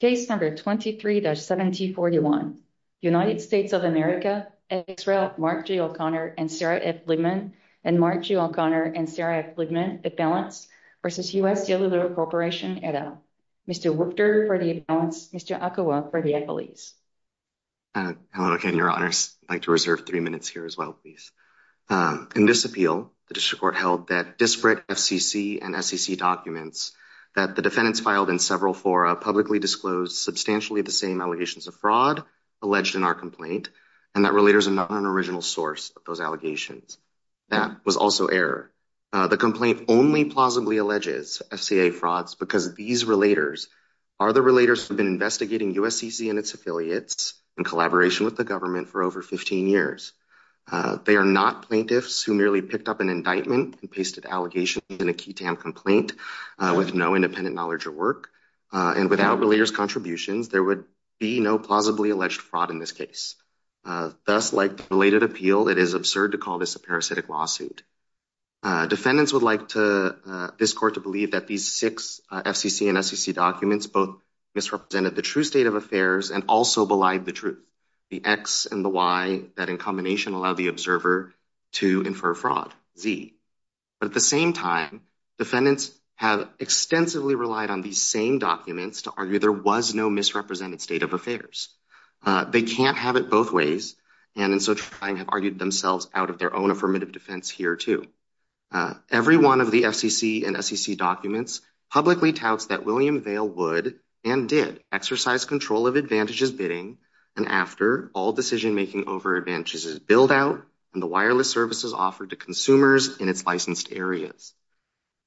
Case number 23-7041, United States of America, Israel Mark G. O'Connor and Sarah F. Liebman, and Mark G. O'Connor and Sarah F. Liebman, Appellants, v. U.S. Cellular Corporation, et al. Mr. Wupter for the Appellants, Mr. Akowa for the Appellees. Hello again, Your Honors. I'd like to reserve three minutes here as well, please. In this appeal, the District Court held that disparate FCC and SEC documents that the disclosed substantially the same allegations of fraud alleged in our complaint, and that relators are not an original source of those allegations. That was also error. The complaint only plausibly alleges FCA frauds because these relators are the relators who've been investigating USCC and its affiliates in collaboration with the government for over 15 years. They are not plaintiffs who merely picked up an indictment and pasted allegations in a QTAM complaint with no independent knowledge or work, and without relators' contributions, there would be no plausibly alleged fraud in this case. Thus, like the related appeal, it is absurd to call this a parasitic lawsuit. Defendants would like this Court to believe that these six FCC and SEC documents both misrepresented the true state of affairs and also belied the truth, the X and the Y that in combination allow the observer to infer fraud, Z. But at the same time, defendants have extensively relied on these same documents to argue there was no misrepresented state of affairs. They can't have it both ways, and in so trying have argued themselves out of their own affirmative defense here too. Every one of the FCC and SEC documents publicly touts that William Vale would and did exercise control of Advantage's bidding and after all decision-making over Advantage's build-out and the wireless services offered to consumers in its licensed areas.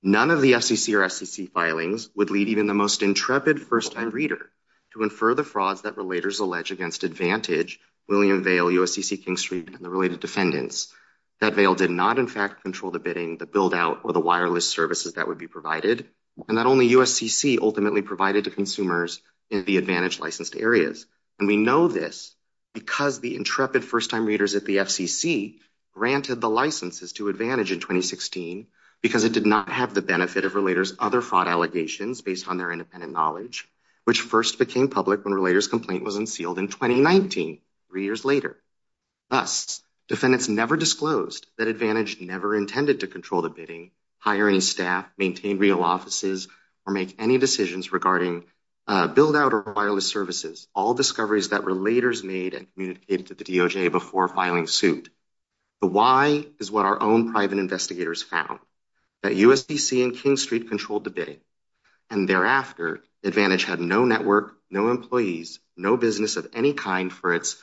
None of the FCC or SEC filings would lead even the most intrepid first-time reader to infer the frauds that relators allege against Advantage, William Vale, USCC, King Street, and the related defendants. That Vale did not, in fact, control the bidding, the build-out, or the wireless services that would be provided, and that only USCC ultimately provided to consumers in the Advantage licensed areas. And we know this because the intrepid first-time readers at the FCC granted the licenses to Advantage in 2016 because it did not have the benefit of Relator's other fraud allegations based on their independent knowledge, which first became public when Relator's complaint was unsealed in 2019, three years later. Thus, defendants never disclosed that Advantage never intended to control the bidding, hire any staff, maintain real offices, or make any decisions regarding build-out or wireless services, all discoveries that Relator's made and communicated to the DOJ before filing suit. The why is what our own private investigators found, that USCC and King Street controlled the bidding. And thereafter, Advantage had no network, no employees, no business of any kind for its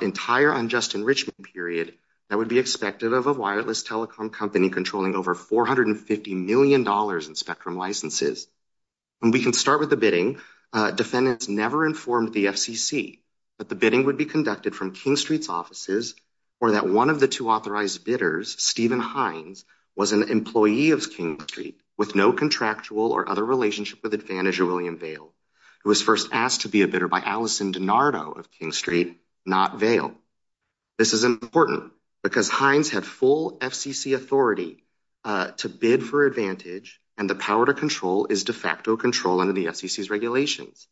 entire unjust enrichment period that would be expected of a wireless telecom company controlling over $450 million in Spectrum licenses. And we can start with the bidding. Defendants never informed the FCC that the bidding would be conducted from King Street's offices or that one of the two authorized bidders, Stephen Hines, was an employee of King Street with no contractual or other relationship with Advantage or William Vale, who was first asked to be a bidder by Allison DiNardo of King Street, not Vale. This is important because Hines had full FCC authority to bid for Advantage, and the power to control is de facto control under the FCC's regulations.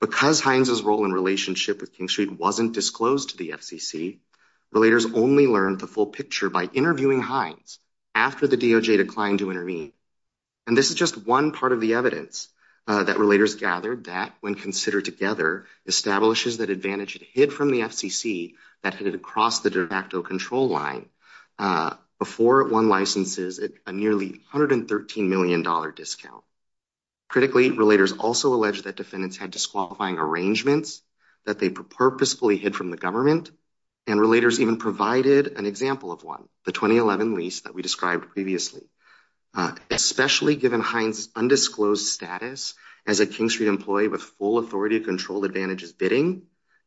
Because Hines' role in relationship with King Street wasn't disclosed to the FCC, Relators only learned the full picture by interviewing Hines after the DOJ declined to intervene. And this is just one part of the evidence that Relators gathered that, when considered together, establishes that Advantage had hid from the FCC that headed across the de facto control line before it won licenses at a nearly $113 million discount. Critically, Relators also alleged that defendants had disqualifying arrangements that they purposefully hid from the government, and Relators even provided an example of one, the 2011 lease that we described previously. Especially given Hines' undisclosed status as a King Street employee with full authority to control Advantage's bidding,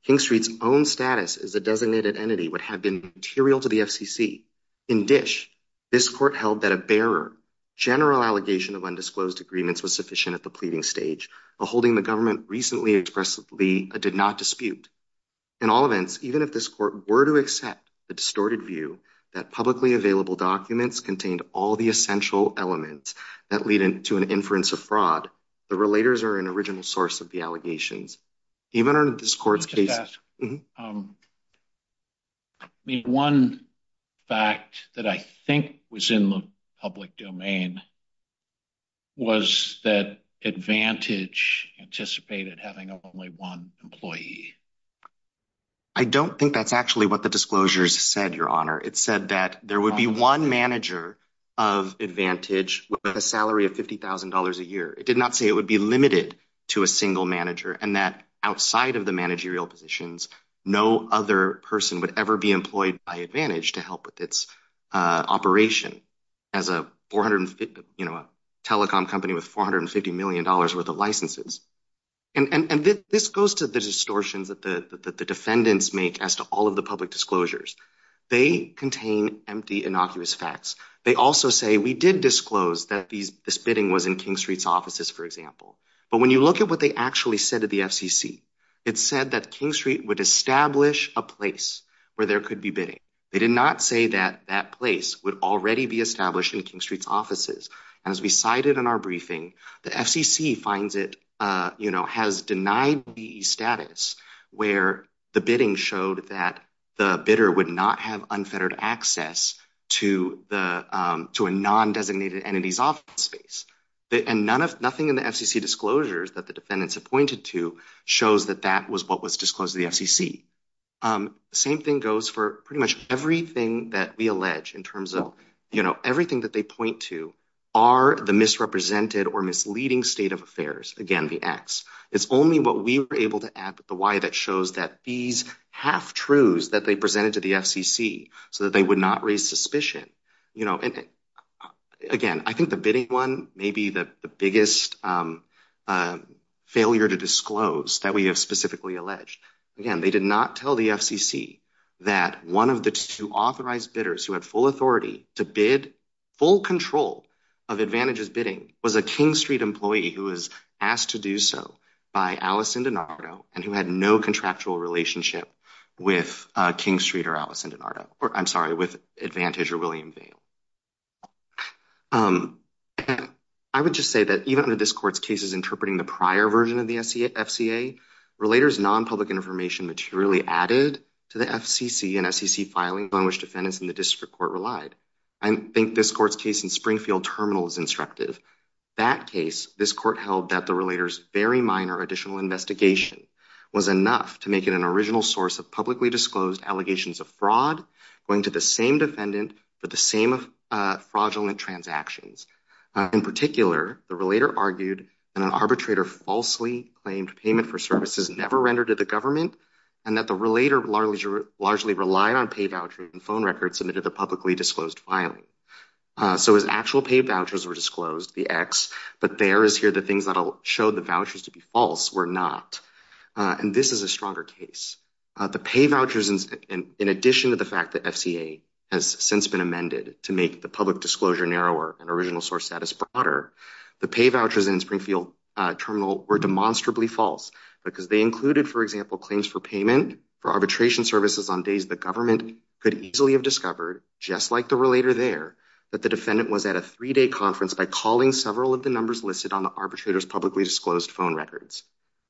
King Street's own status as a designated entity would have been material to the FCC. In Dish, this court held that a bearer general allegation of undisclosed agreements was sufficient at the pleading stage, aholding the government recently expressly a did-not dispute. In all events, even if this court were to accept the distorted view that publicly available documents contained all the essential elements that lead into an inference of fraud, the Relators are an original source of the allegations. Even under this court's case... I mean, one fact that I think was in the public domain was that Advantage anticipated having only one employee. I don't think that's actually what the disclosures said, Your Honor. It said that there would be one manager of Advantage with a salary of $50,000 a year. It did not say it would be limited to a single manager and that outside of the managerial positions, no other person would ever be employed by Advantage to help with its operation as a telecom company with $450 million worth of licenses. And this goes to the distortions that the defendants make as to all of the public disclosures. They contain empty, innocuous facts. They also say, we did disclose that this bidding was in King Street's offices, for example. But when you look at what they actually said to the FCC, it said that King Street would establish a place where there could be bidding. They did not say that that place would already be established in King Street's offices. And as we cited in our briefing, the FCC finds it, you know, has denied the status where the bidding showed that the bidder would not have unfettered access to a non-designated entity's office space. And nothing in the FCC disclosures that the defendants have pointed to shows that that was what was disclosed to the FCC. Same thing goes for pretty much everything that we allege in terms of, you know, everything that they point to are the misrepresented or misleading state of affairs. Again, the X. It's only what we were able to add with the Y that shows that these half-truths that they presented to the FCC so that they would not raise suspicion, you know. And again, I think the bidding one may be the biggest failure to disclose that we have specifically alleged. Again, they did not tell the FCC that one of the two authorized bidders who had full authority to bid, full control of advantages bidding, was a King Street employee who was asked to do so by Allison DiNardo and who had no contractual relationship with King Street or Allison DiNardo or, I'm sorry, with Advantage or William Vale. I would just say that even under this court's cases interpreting the prior version of the FCA, relators' non-public information materially added to the FCC and FCC filings on which defendants in the district court relied. I think this court's case in Springfield Terminal is instructive. That case, this court held that the relators' very minor additional investigation was enough to make it an original source of publicly disclosed allegations of fraud going to the same defendant for the same fraudulent transactions. In particular, the relator argued that an arbitrator falsely claimed payment for services never rendered to the government and that the relator largely relied on pay vouchers and phone records submitted to publicly disclosed filing. So his actual pay vouchers were disclosed, the X, but there is here the showed the vouchers to be false were not, and this is a stronger case. The pay vouchers, in addition to the fact that FCA has since been amended to make the public disclosure narrower and original source status broader, the pay vouchers in Springfield Terminal were demonstrably false because they included, for example, claims for payment for arbitration services on days the government could easily have discovered, just like the relator there, that the defendant was at a records.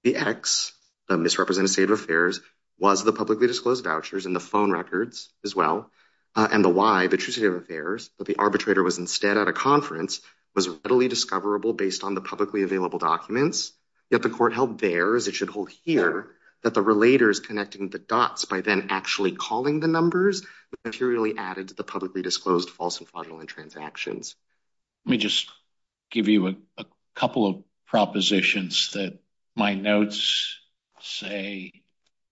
The X, the misrepresented state of affairs, was the publicly disclosed vouchers and the phone records as well, and the Y, the trustee of affairs, that the arbitrator was instead at a conference was readily discoverable based on the publicly available documents. Yet the court held there, as it should hold here, that the relators connecting the dots by then actually calling the numbers materially added to the publicly disclosed false and fraudulent transactions. Let me just give you a couple of propositions that my notes say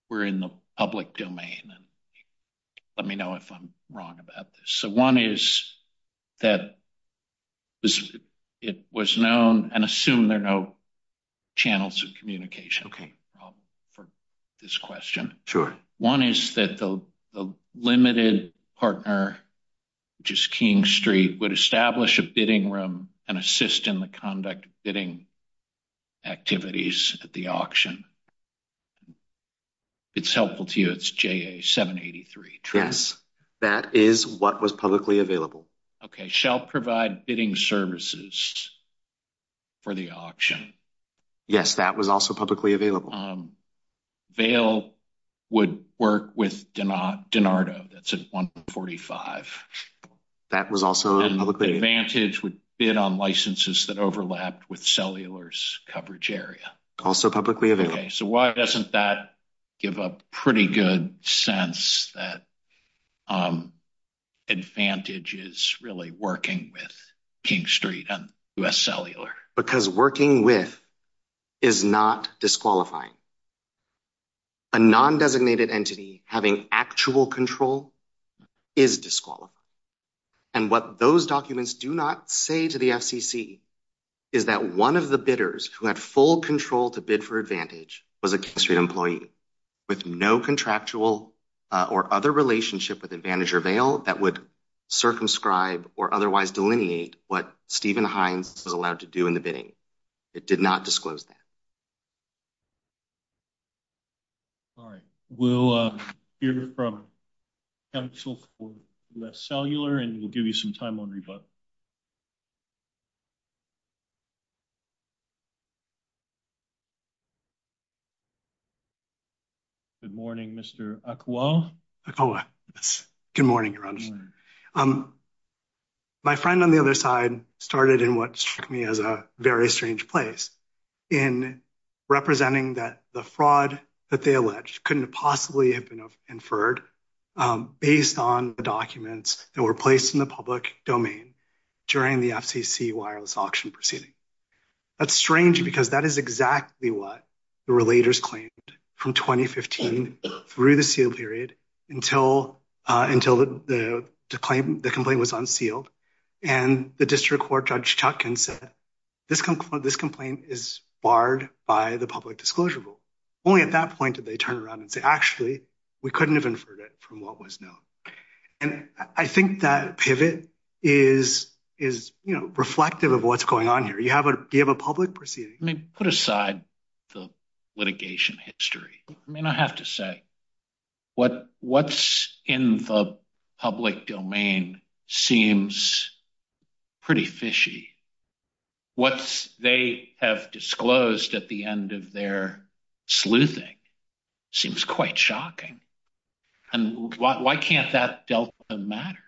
were in the public domain, and let me know if I'm wrong about this. So one is that it was known, and assume there are no channels of communication for this question. Sure. One is that the limited partner, which is King Street, would establish a bidding room and assist in the conduct of bidding activities at the auction. It's helpful to you, it's JA 783. Yes, that is what was publicly available. Okay, shall provide bidding services for the auction. Yes, that was also publicly available. Vale would work with Denardo, that's at 145. That was also publicly available. And Advantage would bid on licenses that overlapped with Cellular's coverage area. Also publicly available. Okay, so why doesn't that give a pretty good sense that Advantage is really working with a non-designated entity having actual control is disqualified. And what those documents do not say to the FCC is that one of the bidders who had full control to bid for Advantage was a King Street employee with no contractual or other relationship with Advantage or Vale that would circumscribe or otherwise delineate what Stephen Hines was allowed to do in the bidding. It did not disclose that. All right, we'll hear from Council for less Cellular and we'll give you some time on rebuttal. Good morning, Mr. Akua. Akua, good morning. My friend on the other side started in what struck me as a very strange place in representing that the fraud that they alleged couldn't possibly have been inferred based on the documents that were placed in the public domain during the FCC wireless auction proceeding. That's strange because that is exactly what the relators claimed from 2015 through the sealed period until the complaint was unsealed and the District Court Judge Chutkan said this complaint is barred by the public disclosure rule. Only at that point did they turn around and say actually we couldn't have inferred it from what was known. And I think that pivot is reflective of what's going on here. You have a public proceeding. Let me put aside the litigation history. I mean I have to say what's in the public domain seems pretty fishy. What they have disclosed at the end of their sleuthing seems quite shocking. And why can't that delta matter?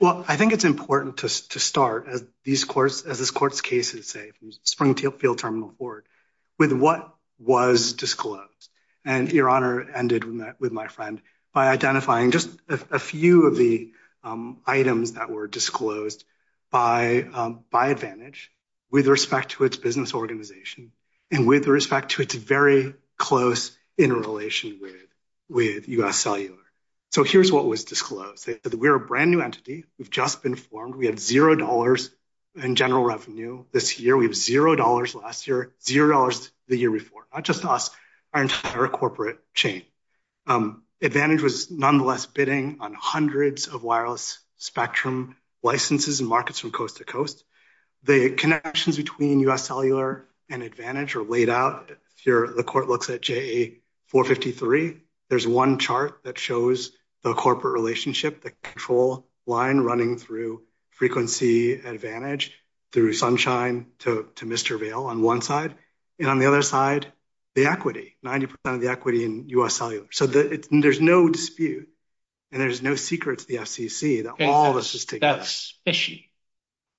Well, I think it's important to start as these courts, as this court's cases say, from Springfield Terminal forward with what was disclosed. And your honor ended with my friend by identifying just a few of the items that were disclosed by Advantage with respect to its business organization and with respect to its very close interrelation with U.S. Cellular. So here's what was disclosed. We're a brand new entity. We've just been formed. We have zero dollars in general revenue this year. We have zero dollars last year, zero dollars the year before. Not just us, our entire corporate chain. Advantage was nonetheless bidding on hundreds of wireless spectrum licenses and markets from coast to coast. The connections between U.S. Cellular and Advantage are laid out. Here the court looks at JA453. There's one chart that shows the corporate relationship, the control line running through Frequency Advantage, through Sunshine to Mr. Vale on one side, and on the other side, the equity, 90 percent of the equity in U.S. Cellular. So there's no dispute and there's no secret to the FCC that all of this is together. That's fishy.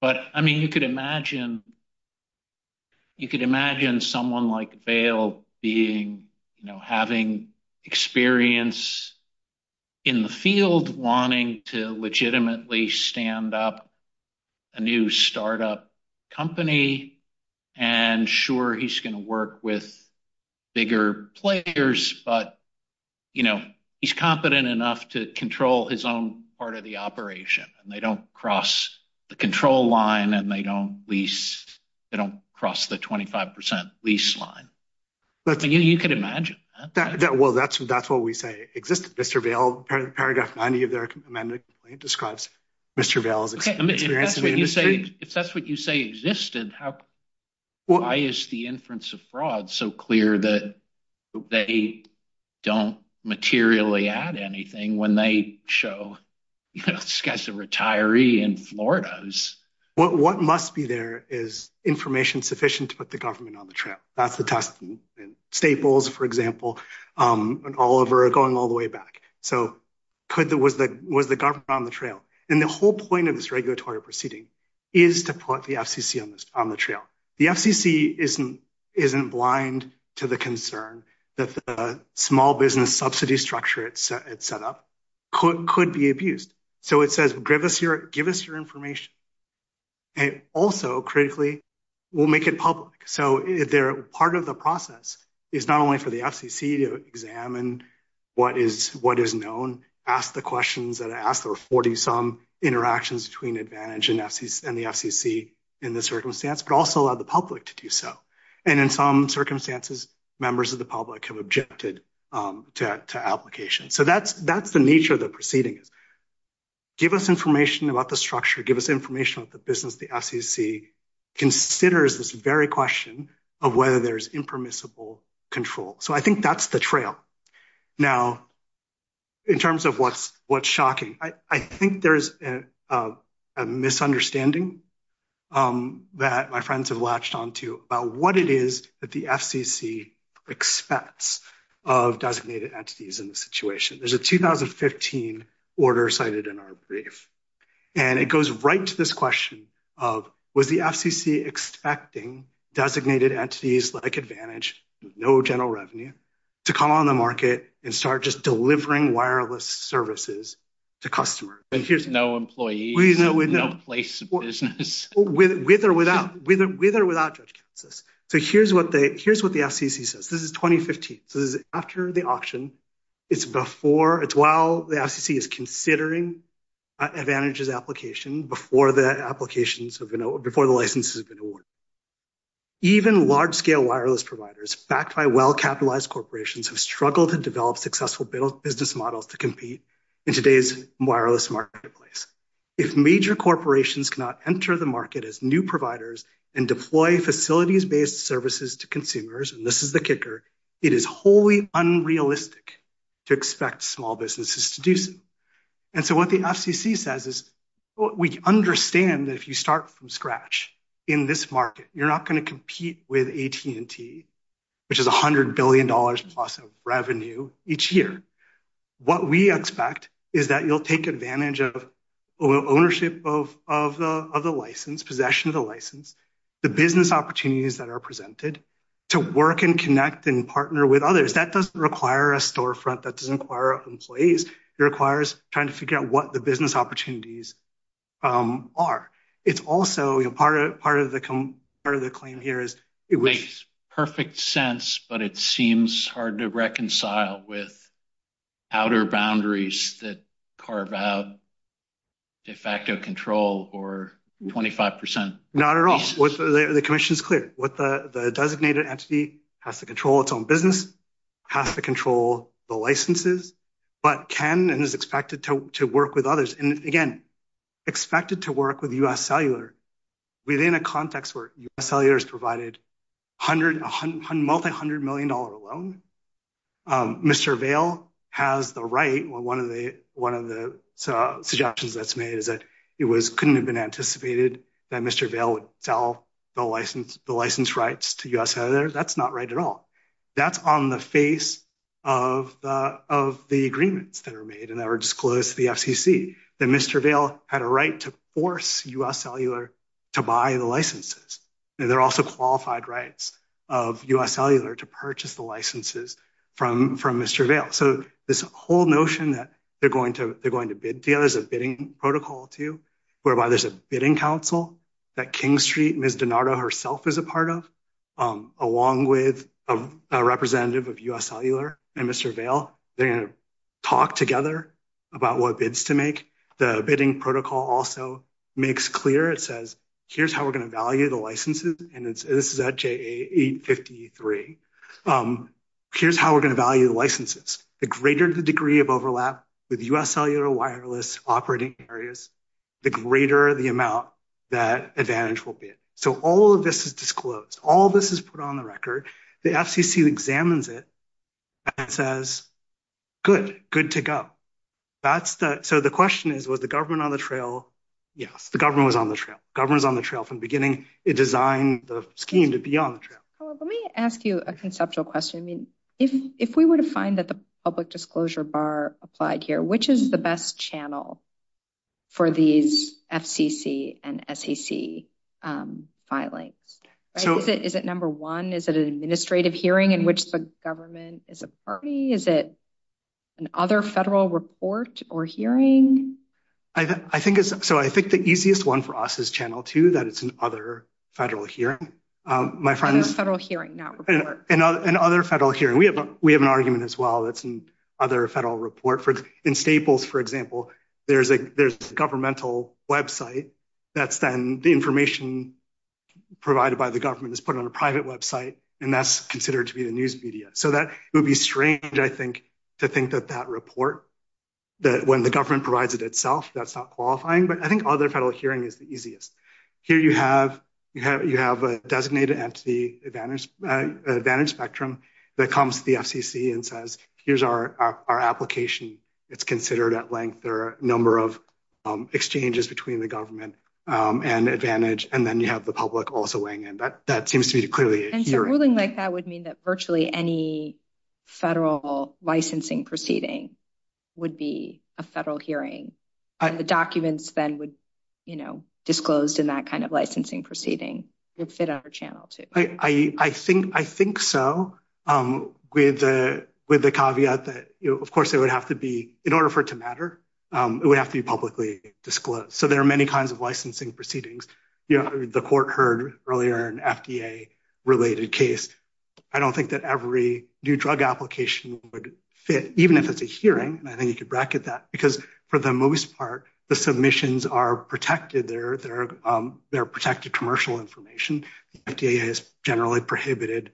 But I mean, you could imagine you could imagine someone like Vale being, you know, having experience in the field, wanting to legitimately stand up a new startup company. And sure, he's going to work with bigger players, but, you know, he's competent enough to control his own part of the operation and they don't cross the control line and they don't lease, they don't cross the 25 percent lease line. But you could imagine that. Well, that's what we say existed. Mr. Vale, paragraph 90 of their amended complaint describes Mr. Vale's experience in the industry. If that's what you say existed, why is the inference of fraud so clear that they don't materially add anything when they show, you know, this guy's a retiree in Florida? What must be there is information sufficient to put the government on the trail. That's the test. Staples, for example, and Oliver are going all the way back. So was the government on the trail? And the whole point of this regulatory proceeding is to put the FCC on the trail. The FCC isn't blind to the concern that the small business subsidy structure it set up could be abused. So it says, give us your information. And also, critically, we'll make it public. So part of the process is not only for the FCC to examine what is known, ask the questions that are asked, there are 40-some interactions between Advantage and the FCC in this circumstance, but also allow the public to do so. And in some applications. So that's the nature of the proceeding. Give us information about the structure, give us information about the business the FCC considers this very question of whether there's impermissible control. So I think that's the trail. Now, in terms of what's shocking, I think there's a misunderstanding that my friends have latched onto about what it is that the FCC expects of designated entities in the situation. There's a 2015 order cited in our brief. And it goes right to this question of, was the FCC expecting designated entities like Advantage, no general revenue, to come on the market and start just delivering wireless services to customers? No employees, no place of business. With or without Judge Kansas. So here's what the FCC says. This is 2015. So this is after the auction. It's while the FCC is considering Advantage's application before the licenses have been awarded. Even large-scale wireless providers backed by well-capitalized corporations have struggled to develop successful business models to compete in today's wireless marketplace. If major corporations cannot enter the market as new providers and deploy facilities-based services to consumers, and this is the kicker, it is wholly unrealistic to expect small businesses to do so. And so what the FCC says is, we understand that if you start from scratch in this market, you're not going to compete with AT&T, which is $100 billion plus of revenue each year. What we expect is that you'll take advantage of ownership of the license, possession of the to work and connect and partner with others. That doesn't require a storefront. That doesn't require employees. It requires trying to figure out what the business opportunities are. It's also, you know, part of the claim here is it makes perfect sense, but it seems hard to reconcile with outer boundaries that carve out de facto control or 25 percent. Not at all. The commission is clear. The designated entity has to control its own business, has to control the licenses, but can and is expected to work with others. And again, expected to work with U.S. Cellular within a context where U.S. Cellular has provided multi-hundred million dollar loan. Mr. Vale has the right, one of the suggestions that's made is it couldn't have been anticipated that Mr. Vale would sell the license rights to U.S. Cellular. That's not right at all. That's on the face of the agreements that are made and that were disclosed to the FCC that Mr. Vale had a right to force U.S. Cellular to buy the licenses. There are also qualified rights of U.S. Cellular to purchase the licenses from Mr. Vale. So this whole notion that they're going to bid together is a bidding protocol too, whereby there's a bidding council that King Street, Ms. Donato herself is a part of, along with a representative of U.S. Cellular and Mr. Vale. They're going to talk together about what bids to make. The bidding protocol also makes clear, it says, here's how we're going to value the licenses. And this is at 853. Here's how we're going to value the licenses. The greater the degree of overlap with U.S. Cellular wireless operating areas, the greater the amount that advantage will be. So all of this is disclosed. All of this is put on the record. The FCC examines it and says, good, good to go. So the question is, was the government on the trail? Yes, the government was on the trail. Government was on the trail from the beginning. It designed the scheme to be on the trail. Let me ask you a conceptual question. If we were to find that the public disclosure bar applied here, which is the best channel for these FCC and SEC filings? Is it number one? Is it an administrative hearing in which the government is a party? Is it an other federal report or hearing? So I think the easiest one for us is channel two, that it's an other federal hearing. An other federal hearing. We have an argument as well that's an other federal report. In Staples, for example, there's a governmental website that's then the information provided by the government is put on a private website, and that's considered to be the news media. So that would be strange, I think, to think that that report, that when the government provides it itself, that's not qualifying. But I think other federal hearing is the easiest. Here you have a designated entity, Advantage Spectrum, that comes to the FCC and says, here's our application. It's considered at length or number of exchanges between the government and Advantage, and then you have the public also weighing in. That seems to be clearly a hearing. And so ruling like that would mean that virtually any federal licensing proceeding would be a federal hearing. And the documents then would be disclosed in that kind of licensing proceeding. It would fit under channel two. I think so, with the caveat that, of course, it would have to be, in order for it to matter, it would have to be publicly disclosed. So there are many kinds of licensing proceedings. The court heard earlier an FDA-related case. I don't think that every new drug application would fit, even if it's a hearing, and I think you could bracket that, because for the most part, the submissions are protected. They're protected commercial information. FDA is generally prohibited,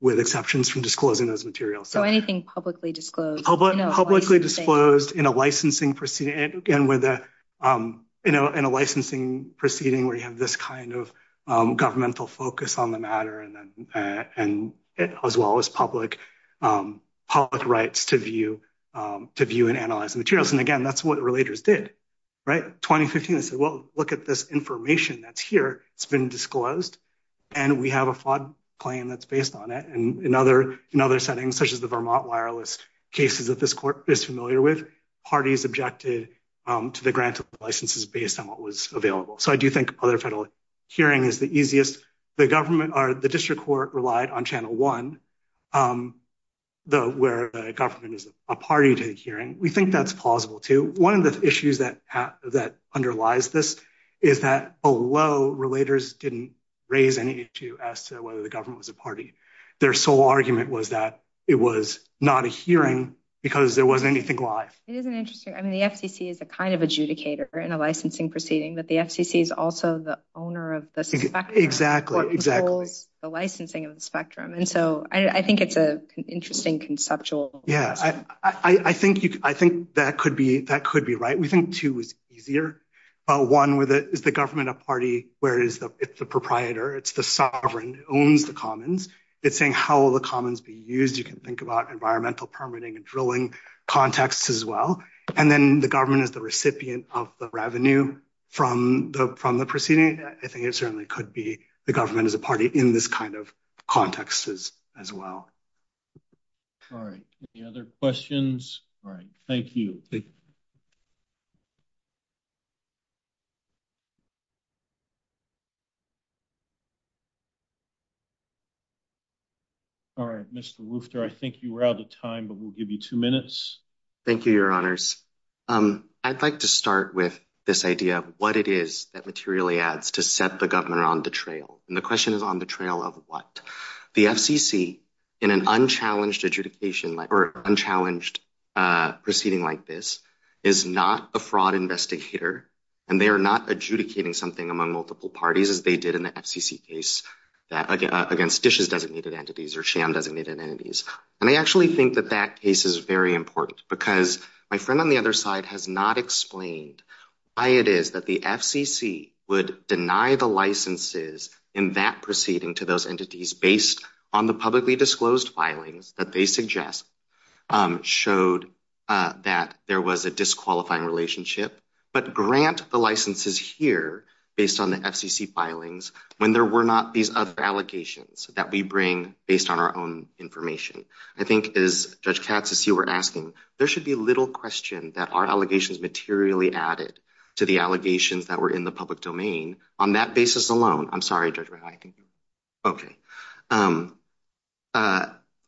with exceptions, from disclosing those materials. So anything publicly disclosed. Publicly disclosed in a licensing proceeding, where you have this kind of governmental focus on the matter, as well as public rights to view and analyze the materials. And again, that's what relators did. In 2015, they said, well, look at this information that's here. It's been disclosed, and we have a fraud claim that's based on it. And in other settings, such as the Vermont wireless cases that this court is familiar with, parties objected to the grant of licenses based on what was available. So I do think other federal hearings are the easiest. The district court relied on channel one, where the government is a party to the hearing. We think that's plausible, too. One of the issues that underlies this is that below, relators didn't raise any issue as to whether the government was a party. Their sole argument was that it was not a hearing, because there wasn't anything live. It is an interesting, I mean, the FCC is a kind of adjudicator in a licensing proceeding, but the FCC is also the owner of the spectrum. Exactly. What controls the licensing of the spectrum. And so I think it's an interesting conceptual question. Yeah. I think that could be right. We think two is easier. One, is the government a party, where it's the proprietor, it's the sovereign, owns the commons. It's saying how will the commons be used. You can think about environmental permitting and drilling contexts as well. And then the government is the recipient of the revenue from the proceeding. I think it certainly could be the government is a party in this kind of context as well. All right. Any other questions? All right. Thank you. All right. Mr. Woufter, I think you were out of time, but we'll give you two minutes. Thank you, your honors. I'd like to start with this idea of what it is that materially adds to set the government on the trail. And the question is on the trail of what? The FCC in an unchallenged adjudication or unchallenged proceeding like this is not a fraud investigator, and they are not adjudicating something among multiple parties as they did in the FCC case against DISH's designated entities or SHAM designated entities. And I actually think that that case is very important because my friend on the other side has not explained why it is that the FCC would deny the licenses in that proceeding to those entities based on the publicly disclosed filings that they suggest showed that there was a disqualifying relationship, but grant the licenses here based on the FCC filings when there were not these other allegations that we bring based on our own information. I think as Judge Katz, as you were asking, there should be little question that our allegations materially added to the allegations that were in the public domain on that basis alone. I'm sorry, Judge Rehan. Okay.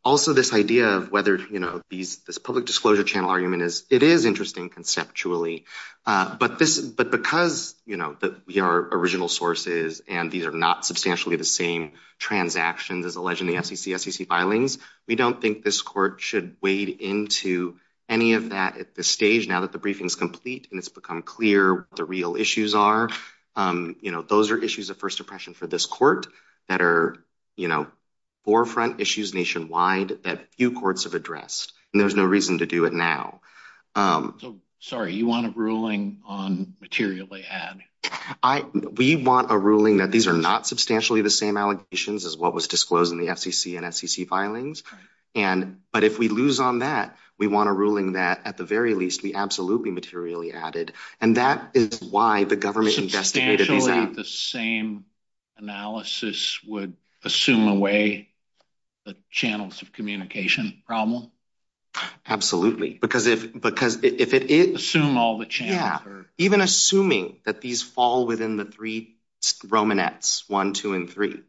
Also, this idea of whether, you know, this public disclosure channel argument is, is interesting conceptually, but this, but because, you know, that we are original sources and these are not substantially the same transactions as alleged in the FCC SCC filings, we don't think this court should wade into any of that at this stage now that the briefing is complete and it's become clear what the real issues are. You know, those are issues of first impression for this court that are, you know, forefront issues nationwide that few courts have Sorry, you want a ruling on materially add? I, we want a ruling that these are not substantially the same allegations as what was disclosed in the FCC and SCC filings. And, but if we lose on that, we want a ruling that at the very least we absolutely materially added. And that is why the government investigated Substantially the same analysis would assume away the channels of communication problem. Absolutely. Because if, because if it is assume all the chance or even assuming that these fall within the three Romanettes one, two, and three,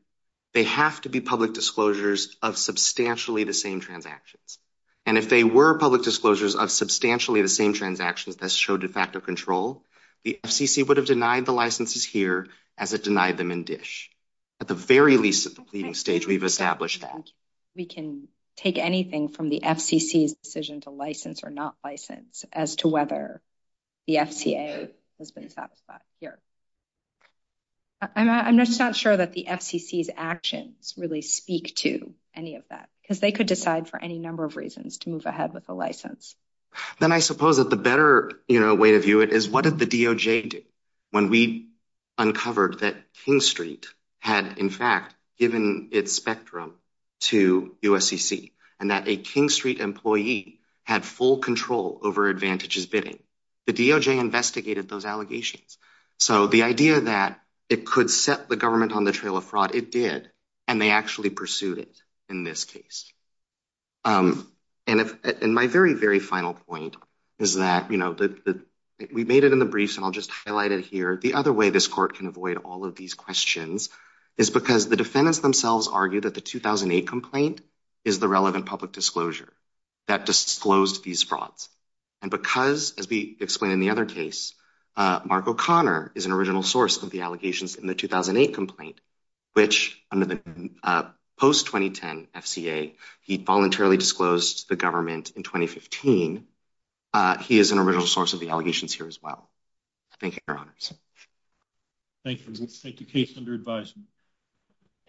they have to be public disclosures of substantially the same transactions. And if they were public disclosures of substantially the same transactions that show de facto control, the FCC would have denied the licenses here as it denied them in dish At the very least at the pleading stage, we've established that We can take anything from the FCC's decision to license or not license as to whether the FCA has been satisfied here. I'm just not sure that the FCC's actions really speak to any of that because they could decide for any number of reasons to move ahead with the license. Then I suppose that the better way to view it is what did the DOJ do when we uncovered that had, in fact, given its spectrum to USCC and that a King Street employee had full control over advantages bidding. The DOJ investigated those allegations. So the idea that it could set the government on the trail of fraud, it did. And they actually pursued it in this case. And my very, very final point is that, you know, we made it in the briefs and I'll just highlight it here. The other way this court can avoid all these questions is because the defendants themselves argue that the 2008 complaint is the relevant public disclosure that disclosed these frauds. And because, as we explained in the other case, Mark O'Connor is an original source of the allegations in the 2008 complaint, which under the post-2010 FCA, he voluntarily disclosed the government in 2015. He is an original source of the allegations here as well. Thank you, Your Honors. Thank you. Case under advisement.